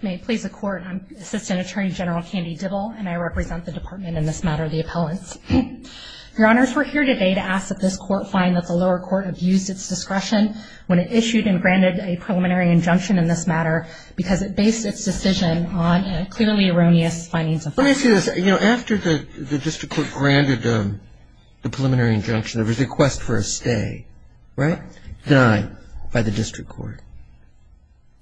May it please the court, I'm Assistant Attorney General Candy Dibble and I represent the department in this matter, the appellants. Your honors, we're here today to ask that this court find that the lower court abused its discretion when it issued and granted a preliminary injunction in this matter because it based its decision on a clearly erroneous findings of facts. Let me say this, you know, after the district court granted the preliminary injunction, there was a request for a stay, right? Done by the district court.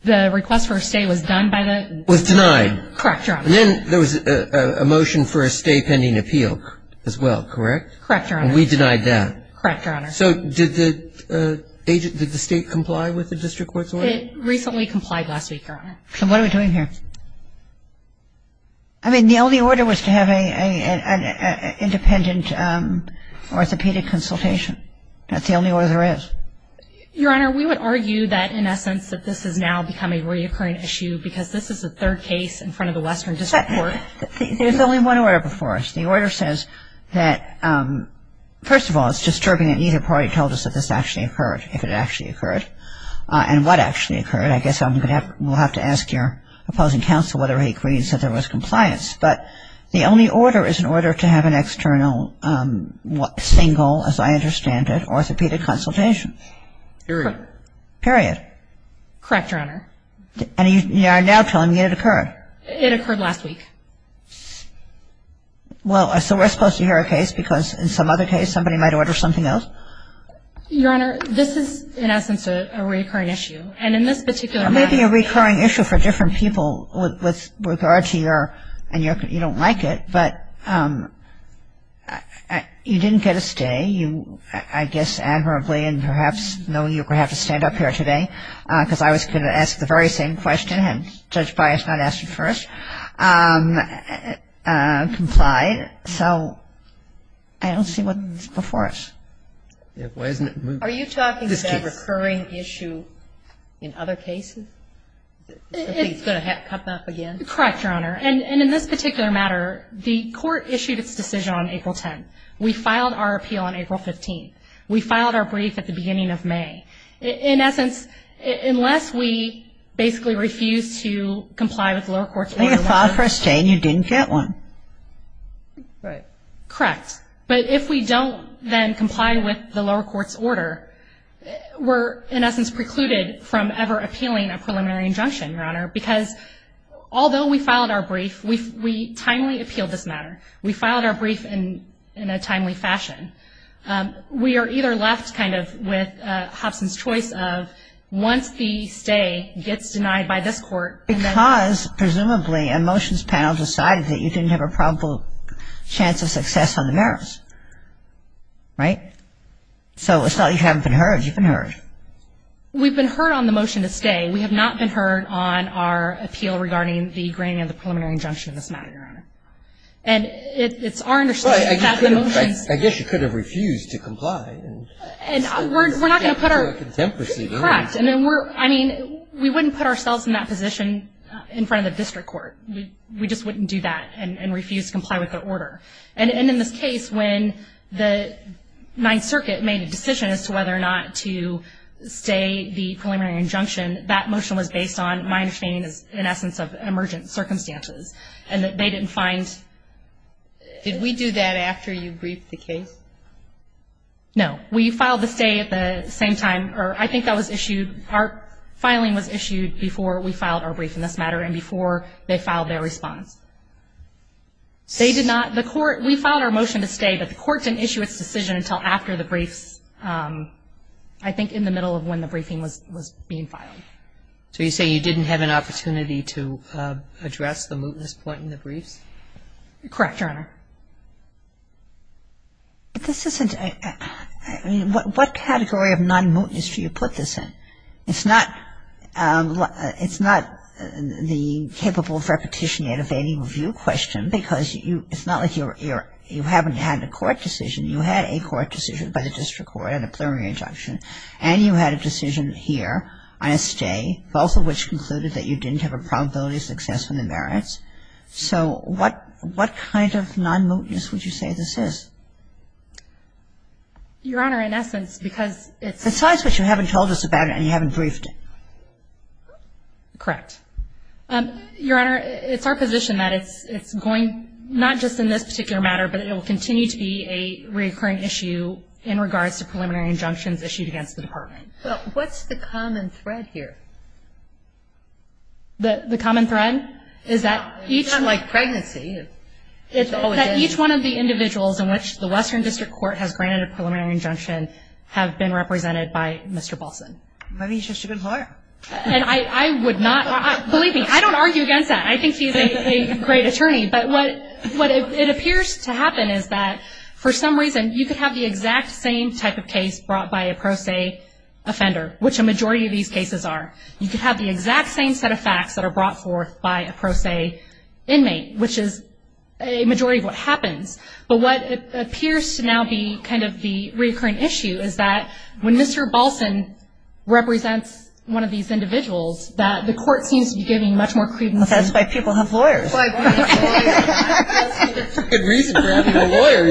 The request for a stay was done by the... Was denied. Correct, your honor. And then there was a motion for a stay pending appeal as well, correct? Correct, your honor. And we denied that. Correct, your honor. So did the state comply with the district court's order? It recently complied last week, your honor. So what are we doing here? I mean, the only order was to have an independent orthopedic consultation. That's the only order there is. Your honor, we would argue that in essence that this has now become a reoccurring issue because this is the third case in front of the western district court. There's only one order before us. The order says that, first of all, it's disturbing that neither party told us that this actually occurred, if it actually occurred, and what actually occurred. I guess we'll have to ask your opposing counsel whether he agrees that there was compliance. But the only order is an order to have an external single, as I understand it, orthopedic consultation. Period. Period. Correct, your honor. And you are now telling me it occurred. It occurred last week. Well, so we're supposed to hear a case because in some other case somebody might order something else? Your honor, this is in essence a reoccurring issue. And in this particular case... I mean, you don't like it, but you didn't get a stay. You, I guess, admirably and perhaps knowing you're going to have to stand up here today, because I was going to ask the very same question and Judge Bias not ask it first, complied. So I don't see what's before us. Are you talking about a recurring issue in other cases? It's going to come up again? Correct, your honor. And in this particular matter, the court issued its decision on April 10th. We filed our appeal on April 15th. We filed our brief at the beginning of May. In essence, unless we basically refuse to comply with the lower court's order... You got five for a stay and you didn't get one. Right. Correct. But if we don't then comply with the lower court's order, we're in essence precluded from ever appealing a preliminary injunction, your honor, because although we filed our brief, we timely appealed this matter. We filed our brief in a timely fashion. We are either left kind of with Hobson's choice of once the stay gets denied by this court... Because presumably a motions panel decided that you didn't have a probable chance of success on the merits, right? So it's not you haven't been heard, you've been heard. We've been heard on the motion to stay. We have not been heard on our appeal regarding the granting of the preliminary injunction in this matter, your honor. And it's our understanding that the motions... I guess you could have refused to comply. We're not going to put our... Correct. I mean, we wouldn't put ourselves in that position in front of the district court. We just wouldn't do that and refuse to comply with their order. And in this case, when the Ninth Circuit made a decision as to whether or not to stay the preliminary injunction, that motion was based on my understanding in essence of emergent circumstances, and they didn't find... Did we do that after you briefed the case? No. We filed the stay at the same time, or I think that was issued... Our filing was issued before we filed our brief in this matter and before they filed their response. They did not... The court... We filed our motion to stay, but the court didn't issue its decision until after the briefs, I think in the middle of when the briefing was being filed. So you're saying you didn't have an opportunity to address the mootness point in the briefs? Correct, your honor. But this isn't... What category of non-mootness do you put this in? It's not... It's not the capable of repetition yet evading review question, because it's not like you haven't had a court decision. You had a court decision by the district court on a preliminary injunction, and you had a decision here on a stay, both of which concluded that you didn't have a probability of success from the merits. So what kind of non-mootness would you say this is? Your honor, in essence, because it's... And you haven't briefed it. Correct. Your honor, it's our position that it's going not just in this particular matter, but it will continue to be a reoccurring issue in regards to preliminary injunctions issued against the department. Well, what's the common thread here? The common thread is that each... It's not like pregnancy. It's that each one of the individuals in which the Western District Court has granted a preliminary injunction have been represented by Mr. Balson. Maybe he should have been hired. And I would not... Believe me, I don't argue against that. I think he's a great attorney. But what it appears to happen is that for some reason you could have the exact same type of case brought by a pro se offender, which a majority of these cases are. You could have the exact same set of facts that are brought forth by a pro se inmate, which is a majority of what happens. But what appears to now be kind of the reoccurring issue is that when Mr. Balson represents one of these individuals, that the court seems to be giving much more credence... That's why people have lawyers. That's a good reason for having a lawyer.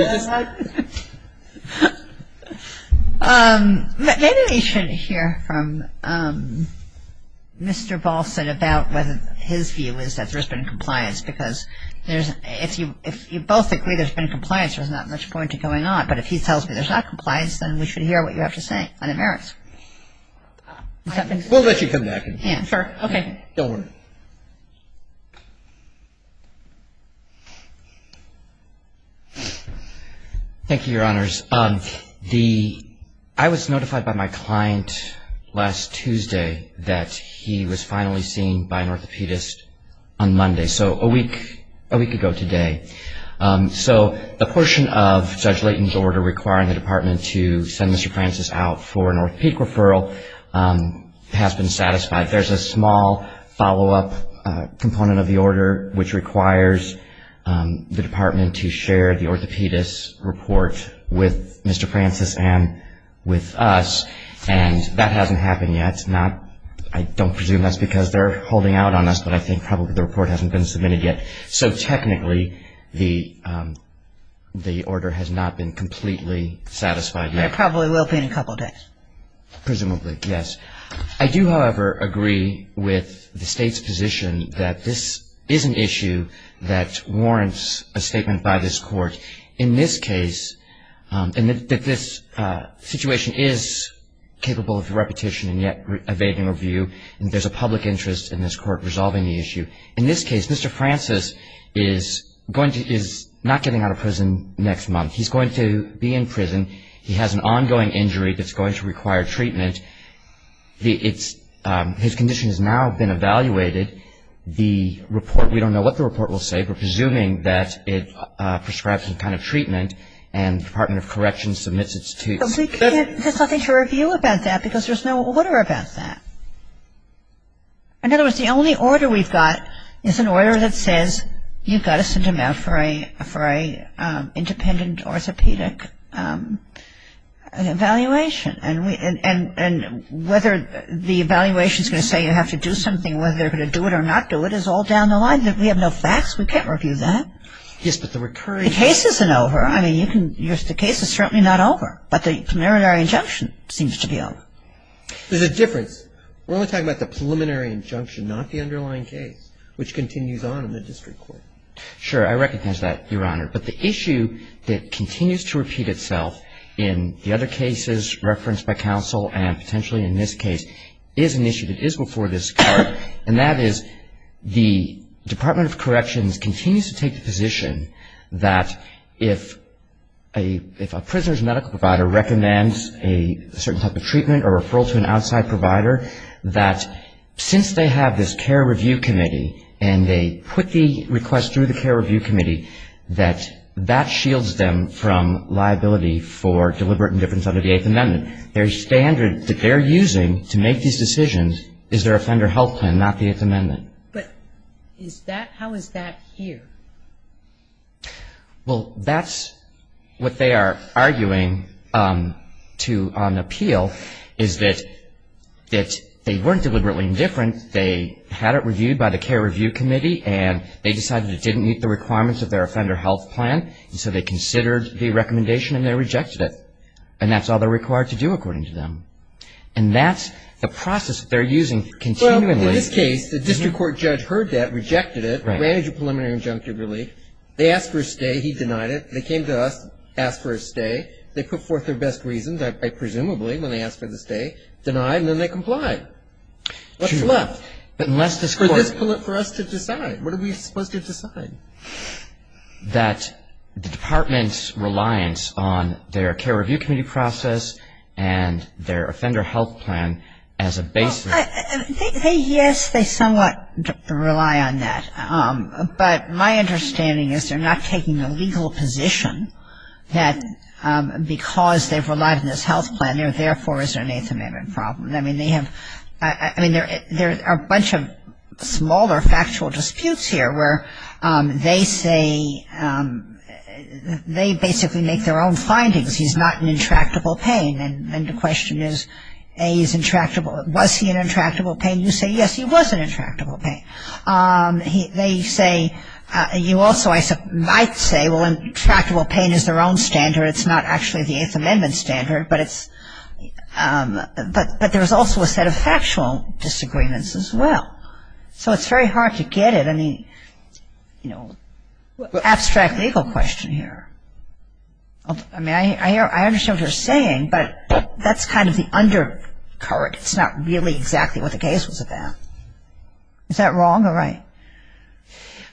Maybe we should hear from Mr. Balson about whether his view is that there's been compliance, because if you both agree there's been compliance, there's not much point to going on. But if he tells me there's not compliance, then we should hear what you have to say. And it merits. We'll let you come back. Sure. Okay. Don't worry. Thank you, Your Honors. I was notified by my client last Tuesday that he was finally seen by an orthopedist on Monday. So a week ago today. So the portion of Judge Layton's order requiring the department to send Mr. Francis out for an orthopedic referral has been satisfied. There's a small follow-up component of the order which requires the department to share the orthopedist's report with Mr. Francis and with us, and that hasn't happened yet. I don't presume that's because they're holding out on us, but I think probably the report hasn't been submitted yet. So technically the order has not been completely satisfied yet. It probably will be in a couple of days. Presumably, yes. I do, however, agree with the State's position that this is an issue that warrants a statement by this Court. In this case, and that this situation is capable of repetition and yet evading review, there's a public interest in this Court resolving the issue. In this case, Mr. Francis is not getting out of prison next month. He's going to be in prison. He has an ongoing injury that's going to require treatment. His condition has now been evaluated. The report, we don't know what the report will say. We're presuming that it prescribes some kind of treatment and the Department of Correction submits it to us. But we can't, there's nothing to review about that because there's no order about that. In other words, the only order we've got is an order that says you've got to send him out for an independent orthopedic evaluation. And whether the evaluation is going to say you have to do something, whether they're going to do it or not do it, is all down the line. We have no facts. We can't review that. Yes, but the recurring... The case isn't over. I mean, you can, the case is certainly not over. But the preliminary injunction seems to be over. There's a difference. We're only talking about the preliminary injunction, not the underlying case, which continues on in the district court. Sure. I recognize that, Your Honor. But the issue that continues to repeat itself in the other cases referenced by counsel and potentially in this case is an issue that is before this Court, and that is the Department of Corrections continues to take the position that if a prisoner's medical provider recommends a certain type of treatment or referral to an outside provider, that since they have this care review committee and they put the request through the care review committee, that that shields them from liability for deliberate indifference under the Eighth Amendment. Their standard that they're using to make these decisions is their offender health plan, not the Eighth Amendment. But is that, how is that here? Well, that's what they are arguing to an appeal, is that they weren't deliberately indifferent. They had it reviewed by the care review committee, and they decided it didn't meet the requirements of their offender health plan, and so they considered the recommendation and they rejected it. And that's all they're required to do, according to them. And that's the process that they're using continually. Well, in this case, the district court judge heard that, rejected it, granted you preliminary injunctive relief. They asked for a stay. He denied it. They came to us, asked for a stay. They put forth their best reasons, presumably, when they asked for the stay, denied, and then they complied. What's left? For us to decide. What are we supposed to decide? That the department's reliance on their care review committee process and their offender health plan as a basis. Yes, they somewhat rely on that. But my understanding is they're not taking a legal position that because they've relied on this health plan, therefore, is there an Eighth Amendment problem. I mean, there are a bunch of smaller factual disputes here where they say they basically make their own findings. He's not an intractable pain. And the question is, A, he's intractable. Was he an intractable pain? You say, yes, he was an intractable pain. They say, you also might say, well, intractable pain is their own standard. It's not actually the Eighth Amendment standard, but there's also a set of factual disagreements as well. So it's very hard to get at any, you know, abstract legal question here. I mean, I understand what you're saying, but that's kind of the undercurrent. It's not really exactly what the case was about. Is that wrong or right?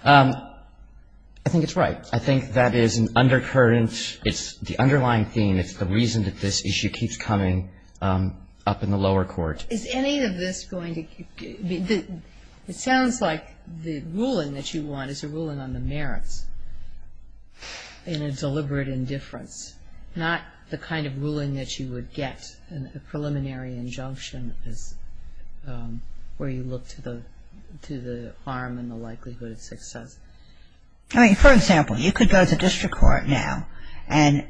I think it's right. I think that is an undercurrent. It's the underlying theme. It's the reason that this issue keeps coming up in the lower court. Is any of this going to be the ‑‑ it sounds like the ruling that you want is a ruling on the merits in a deliberate indifference, not the kind of ruling that you would get in a preliminary injunction where you look to the harm and the likelihood of success. I mean, for example, you could go to district court now and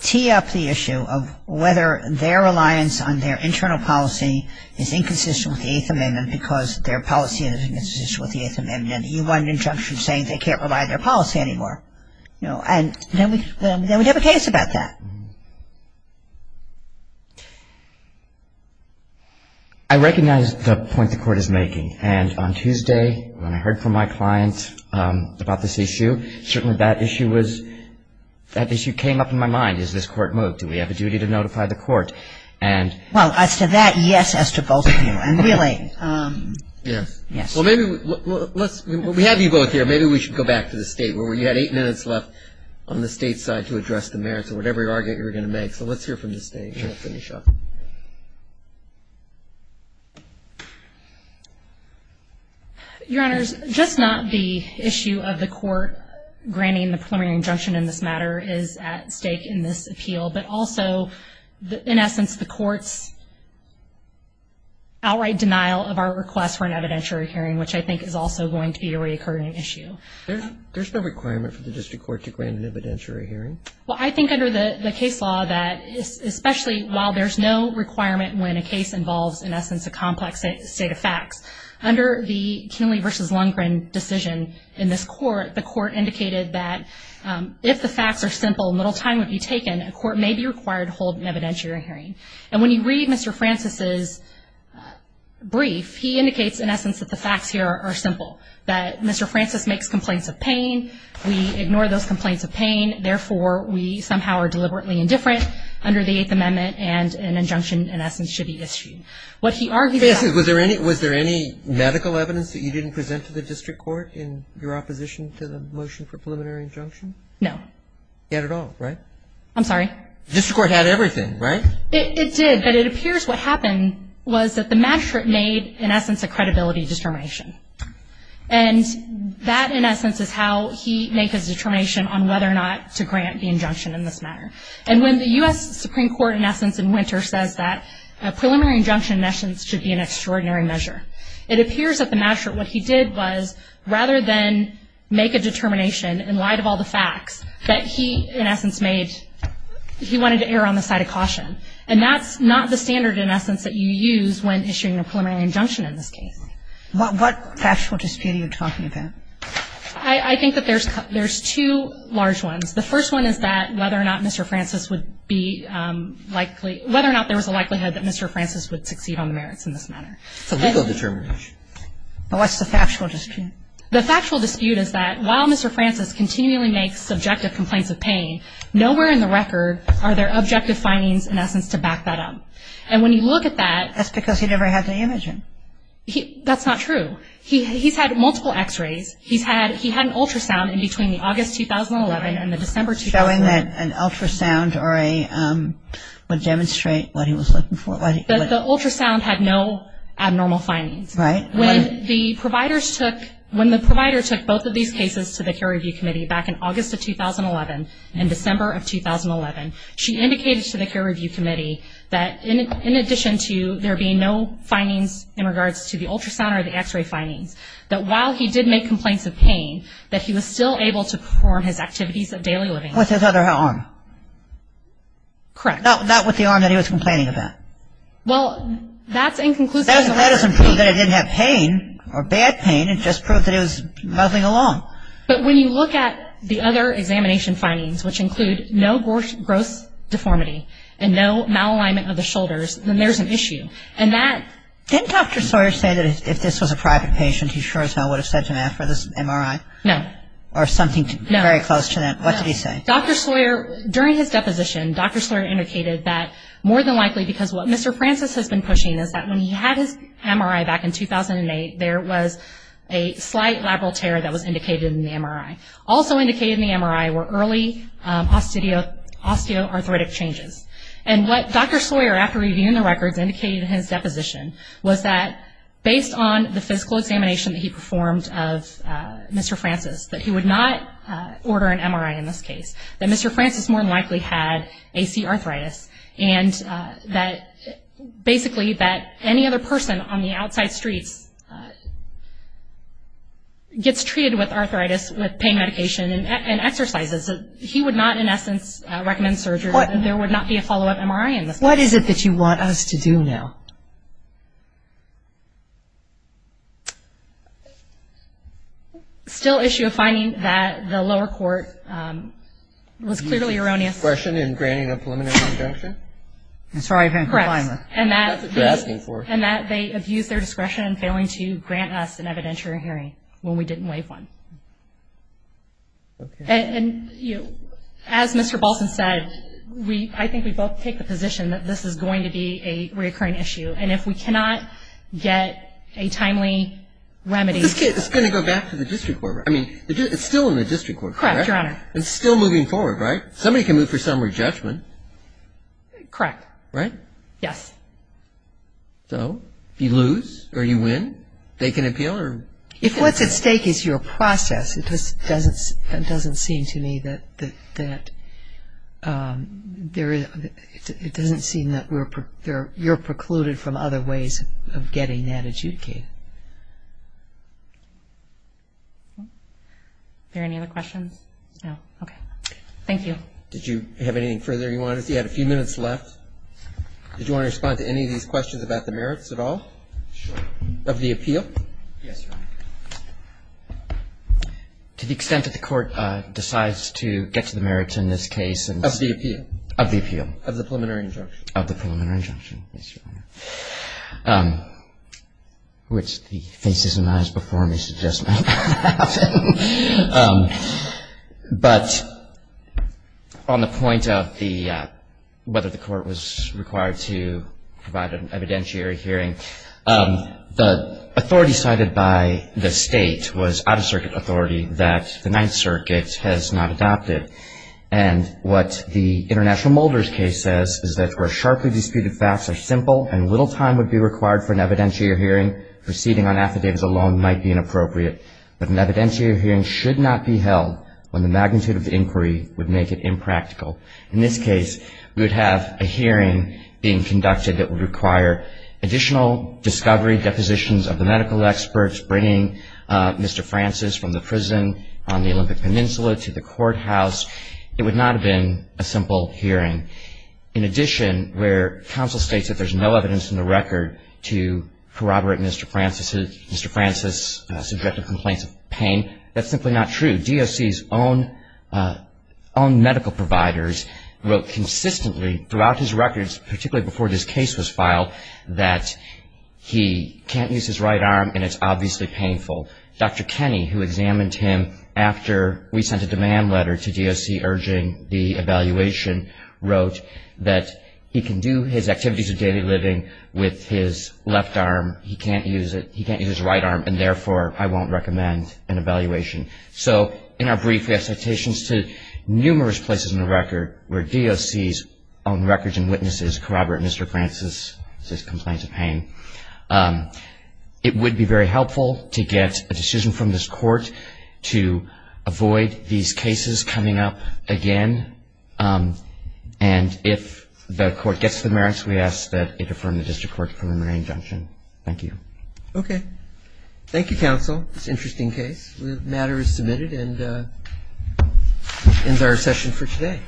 tee up the issue of whether their reliance on their internal policy is inconsistent with the Eighth Amendment because their policy is inconsistent with the Eighth Amendment. You want an injunction saying they can't rely on their policy anymore. You know, and then we have a case about that. I recognize the point the court is making, and on Tuesday when I heard from my client about this issue, certainly that issue was ‑‑ that issue came up in my mind. Is this court moved? Do we have a duty to notify the court? And ‑‑ Well, as to that, yes, as to both of you. And really ‑‑ Yes. Yes. Well, maybe let's ‑‑ we have you both here. Maybe we should go back to the state where you had eight minutes left on the state side to address the merits of whatever argument you were going to make. So let's hear from the state and we'll finish up. Your Honors, just not the issue of the court granting the preliminary injunction in this matter is at stake in this appeal, but also in essence the court's outright denial of our request for an evidentiary hearing, which I think is also going to be a reoccurring issue. There's no requirement for the district court to grant an evidentiary hearing. Well, I think under the case law that, especially while there's no requirement when a case involves, in essence, a complex state of facts, under the Kinley v. Lundgren decision in this court, the court indicated that if the facts are simple and little time would be taken, a court may be required to hold an evidentiary hearing. And when you read Mr. Francis' brief, he indicates, in essence, that the facts here are simple, that Mr. Francis makes complaints of pain, we ignore those complaints of pain, therefore we somehow are deliberately indifferent under the Eighth Amendment and an injunction, in essence, should be issued. What he argued about Was there any medical evidence that you didn't present to the district court in your opposition to the motion for preliminary injunction? No. You had it all, right? I'm sorry? The district court had everything, right? It did, but it appears what happened was that the magistrate made, in essence, a credibility determination. And that, in essence, is how he made his determination on whether or not to grant the injunction in this matter. And when the U.S. Supreme Court, in essence, in Winter says that a preliminary injunction, in essence, should be an extraordinary measure, it appears that the magistrate, what he did was, rather than make a determination in light of all the facts, that he, in essence, made he wanted to err on the side of caution. And that's not the standard, in essence, that you use when issuing a preliminary injunction in this case. What factual dispute are you talking about? I think that there's two large ones. The first one is that whether or not Mr. Francis would be likely, whether or not there was a likelihood that Mr. Francis would succeed on the merits in this matter. It's a legal determination. What's the factual dispute? The factual dispute is that while Mr. Francis continually makes subjective complaints of pain, nowhere in the record are there objective findings, in essence, to back that up. And when you look at that That's because he never had the image in. That's not true. He's had multiple x-rays. He had an ultrasound in between the August 2011 and the December 2011. Showing that an ultrasound would demonstrate what he was looking for. The ultrasound had no abnormal findings. Right. When the provider took both of these cases to the Care Review Committee back in August of 2011 and December of 2011, she indicated to the Care Review Committee that, in addition to there being no findings in regards to the ultrasound or the x-ray findings, that while he did make complaints of pain, that he was still able to perform his activities of daily living. With his other arm. Correct. Not with the arm that he was complaining about. Well, that's inconclusive. That doesn't prove that he didn't have pain or bad pain. It just proved that he was muddling along. But when you look at the other examination findings, which include no gross deformity and no malalignment of the shoulders, then there's an issue. Didn't Dr. Sawyer say that if this was a private patient, he sure as hell would have said to ask for this MRI? No. Or something very close to that. No. What did he say? Dr. Sawyer, during his deposition, Dr. Sawyer indicated that more than likely, because what Mr. Francis has been pushing is that when he had his MRI back in 2008, there was a slight labral tear that was indicated in the MRI. Also indicated in the MRI were early osteoarthritic changes. And what Dr. Sawyer, after reviewing the records, indicated in his deposition, was that based on the physical examination that he performed of Mr. Francis, that he would not order an MRI in this case. That Mr. Francis more than likely had AC arthritis. And that basically that any other person on the outside streets gets treated with arthritis, with pain medication, and exercises. He would not, in essence, recommend surgery. There would not be a follow-up MRI in this case. What is it that you want us to do now? Still issue a finding that the lower court was clearly erroneous. And that they abused their discretion in granting a preliminary injunction. And that they abused their discretion in failing to grant us an evidentiary hearing when we didn't waive one. And as Mr. Balson said, I think we both take the position that this is going to be a reoccurring issue. And if we cannot get a timely remedy. It's going to go back to the district court. I mean, it's still in the district court. Correct, Your Honor. It's still moving forward, right? Somebody can move for summary judgment. Correct. Right? Yes. So, if you lose or you win, they can appeal? If what's at stake is your process, it doesn't seem to me that you're precluded from other ways of getting that adjudicated. Are there any other questions? No. Okay. Thank you. Did you have anything further you wanted? You had a few minutes left. Did you want to respond to any of these questions about the merits at all? Sure. Of the appeal? Yes, Your Honor. To the extent that the court decides to get to the merits in this case. Of the appeal. Of the appeal. Of the preliminary injunction. Of the preliminary injunction. Yes, Your Honor. Thank you. Which the faces and eyes before me suggest might not have. But on the point of whether the court was required to provide an evidentiary hearing, the authority cited by the State was out-of-circuit authority that the Ninth Circuit has not adopted. And what the International Mulder's case says is that where sharply disputed facts are simple and little time would be required for an evidentiary hearing, proceeding on affidavits alone might be inappropriate. But an evidentiary hearing should not be held when the magnitude of the inquiry would make it impractical. In this case, we would have a hearing being conducted that would require additional discovery, depositions of the medical experts, bringing Mr. Francis from the prison on the Olympic Peninsula to the courthouse. It would not have been a simple hearing. In addition, where counsel states that there's no evidence in the record to corroborate Mr. Francis' subjective complaints of pain, that's simply not true. DOC's own medical providers wrote consistently throughout his records, particularly before this case was filed, that he can't use his right arm and it's obviously painful. Dr. Kenney, who examined him after we sent a demand letter to DOC urging the evaluation, wrote that he can do his activities of daily living with his left arm. He can't use it. He can't use his right arm, and therefore, I won't recommend an evaluation. So in our brief, we have citations to numerous places in the record where DOC's own records and witnesses corroborate Mr. Francis' complaint of pain. It would be very helpful to get a decision from this court to avoid these cases coming up again, and if the court gets the merits, we ask that it affirm the district court preliminary injunction. Thank you. Okay. Thank you, counsel. It's an interesting case. The matter is submitted and ends our session for today.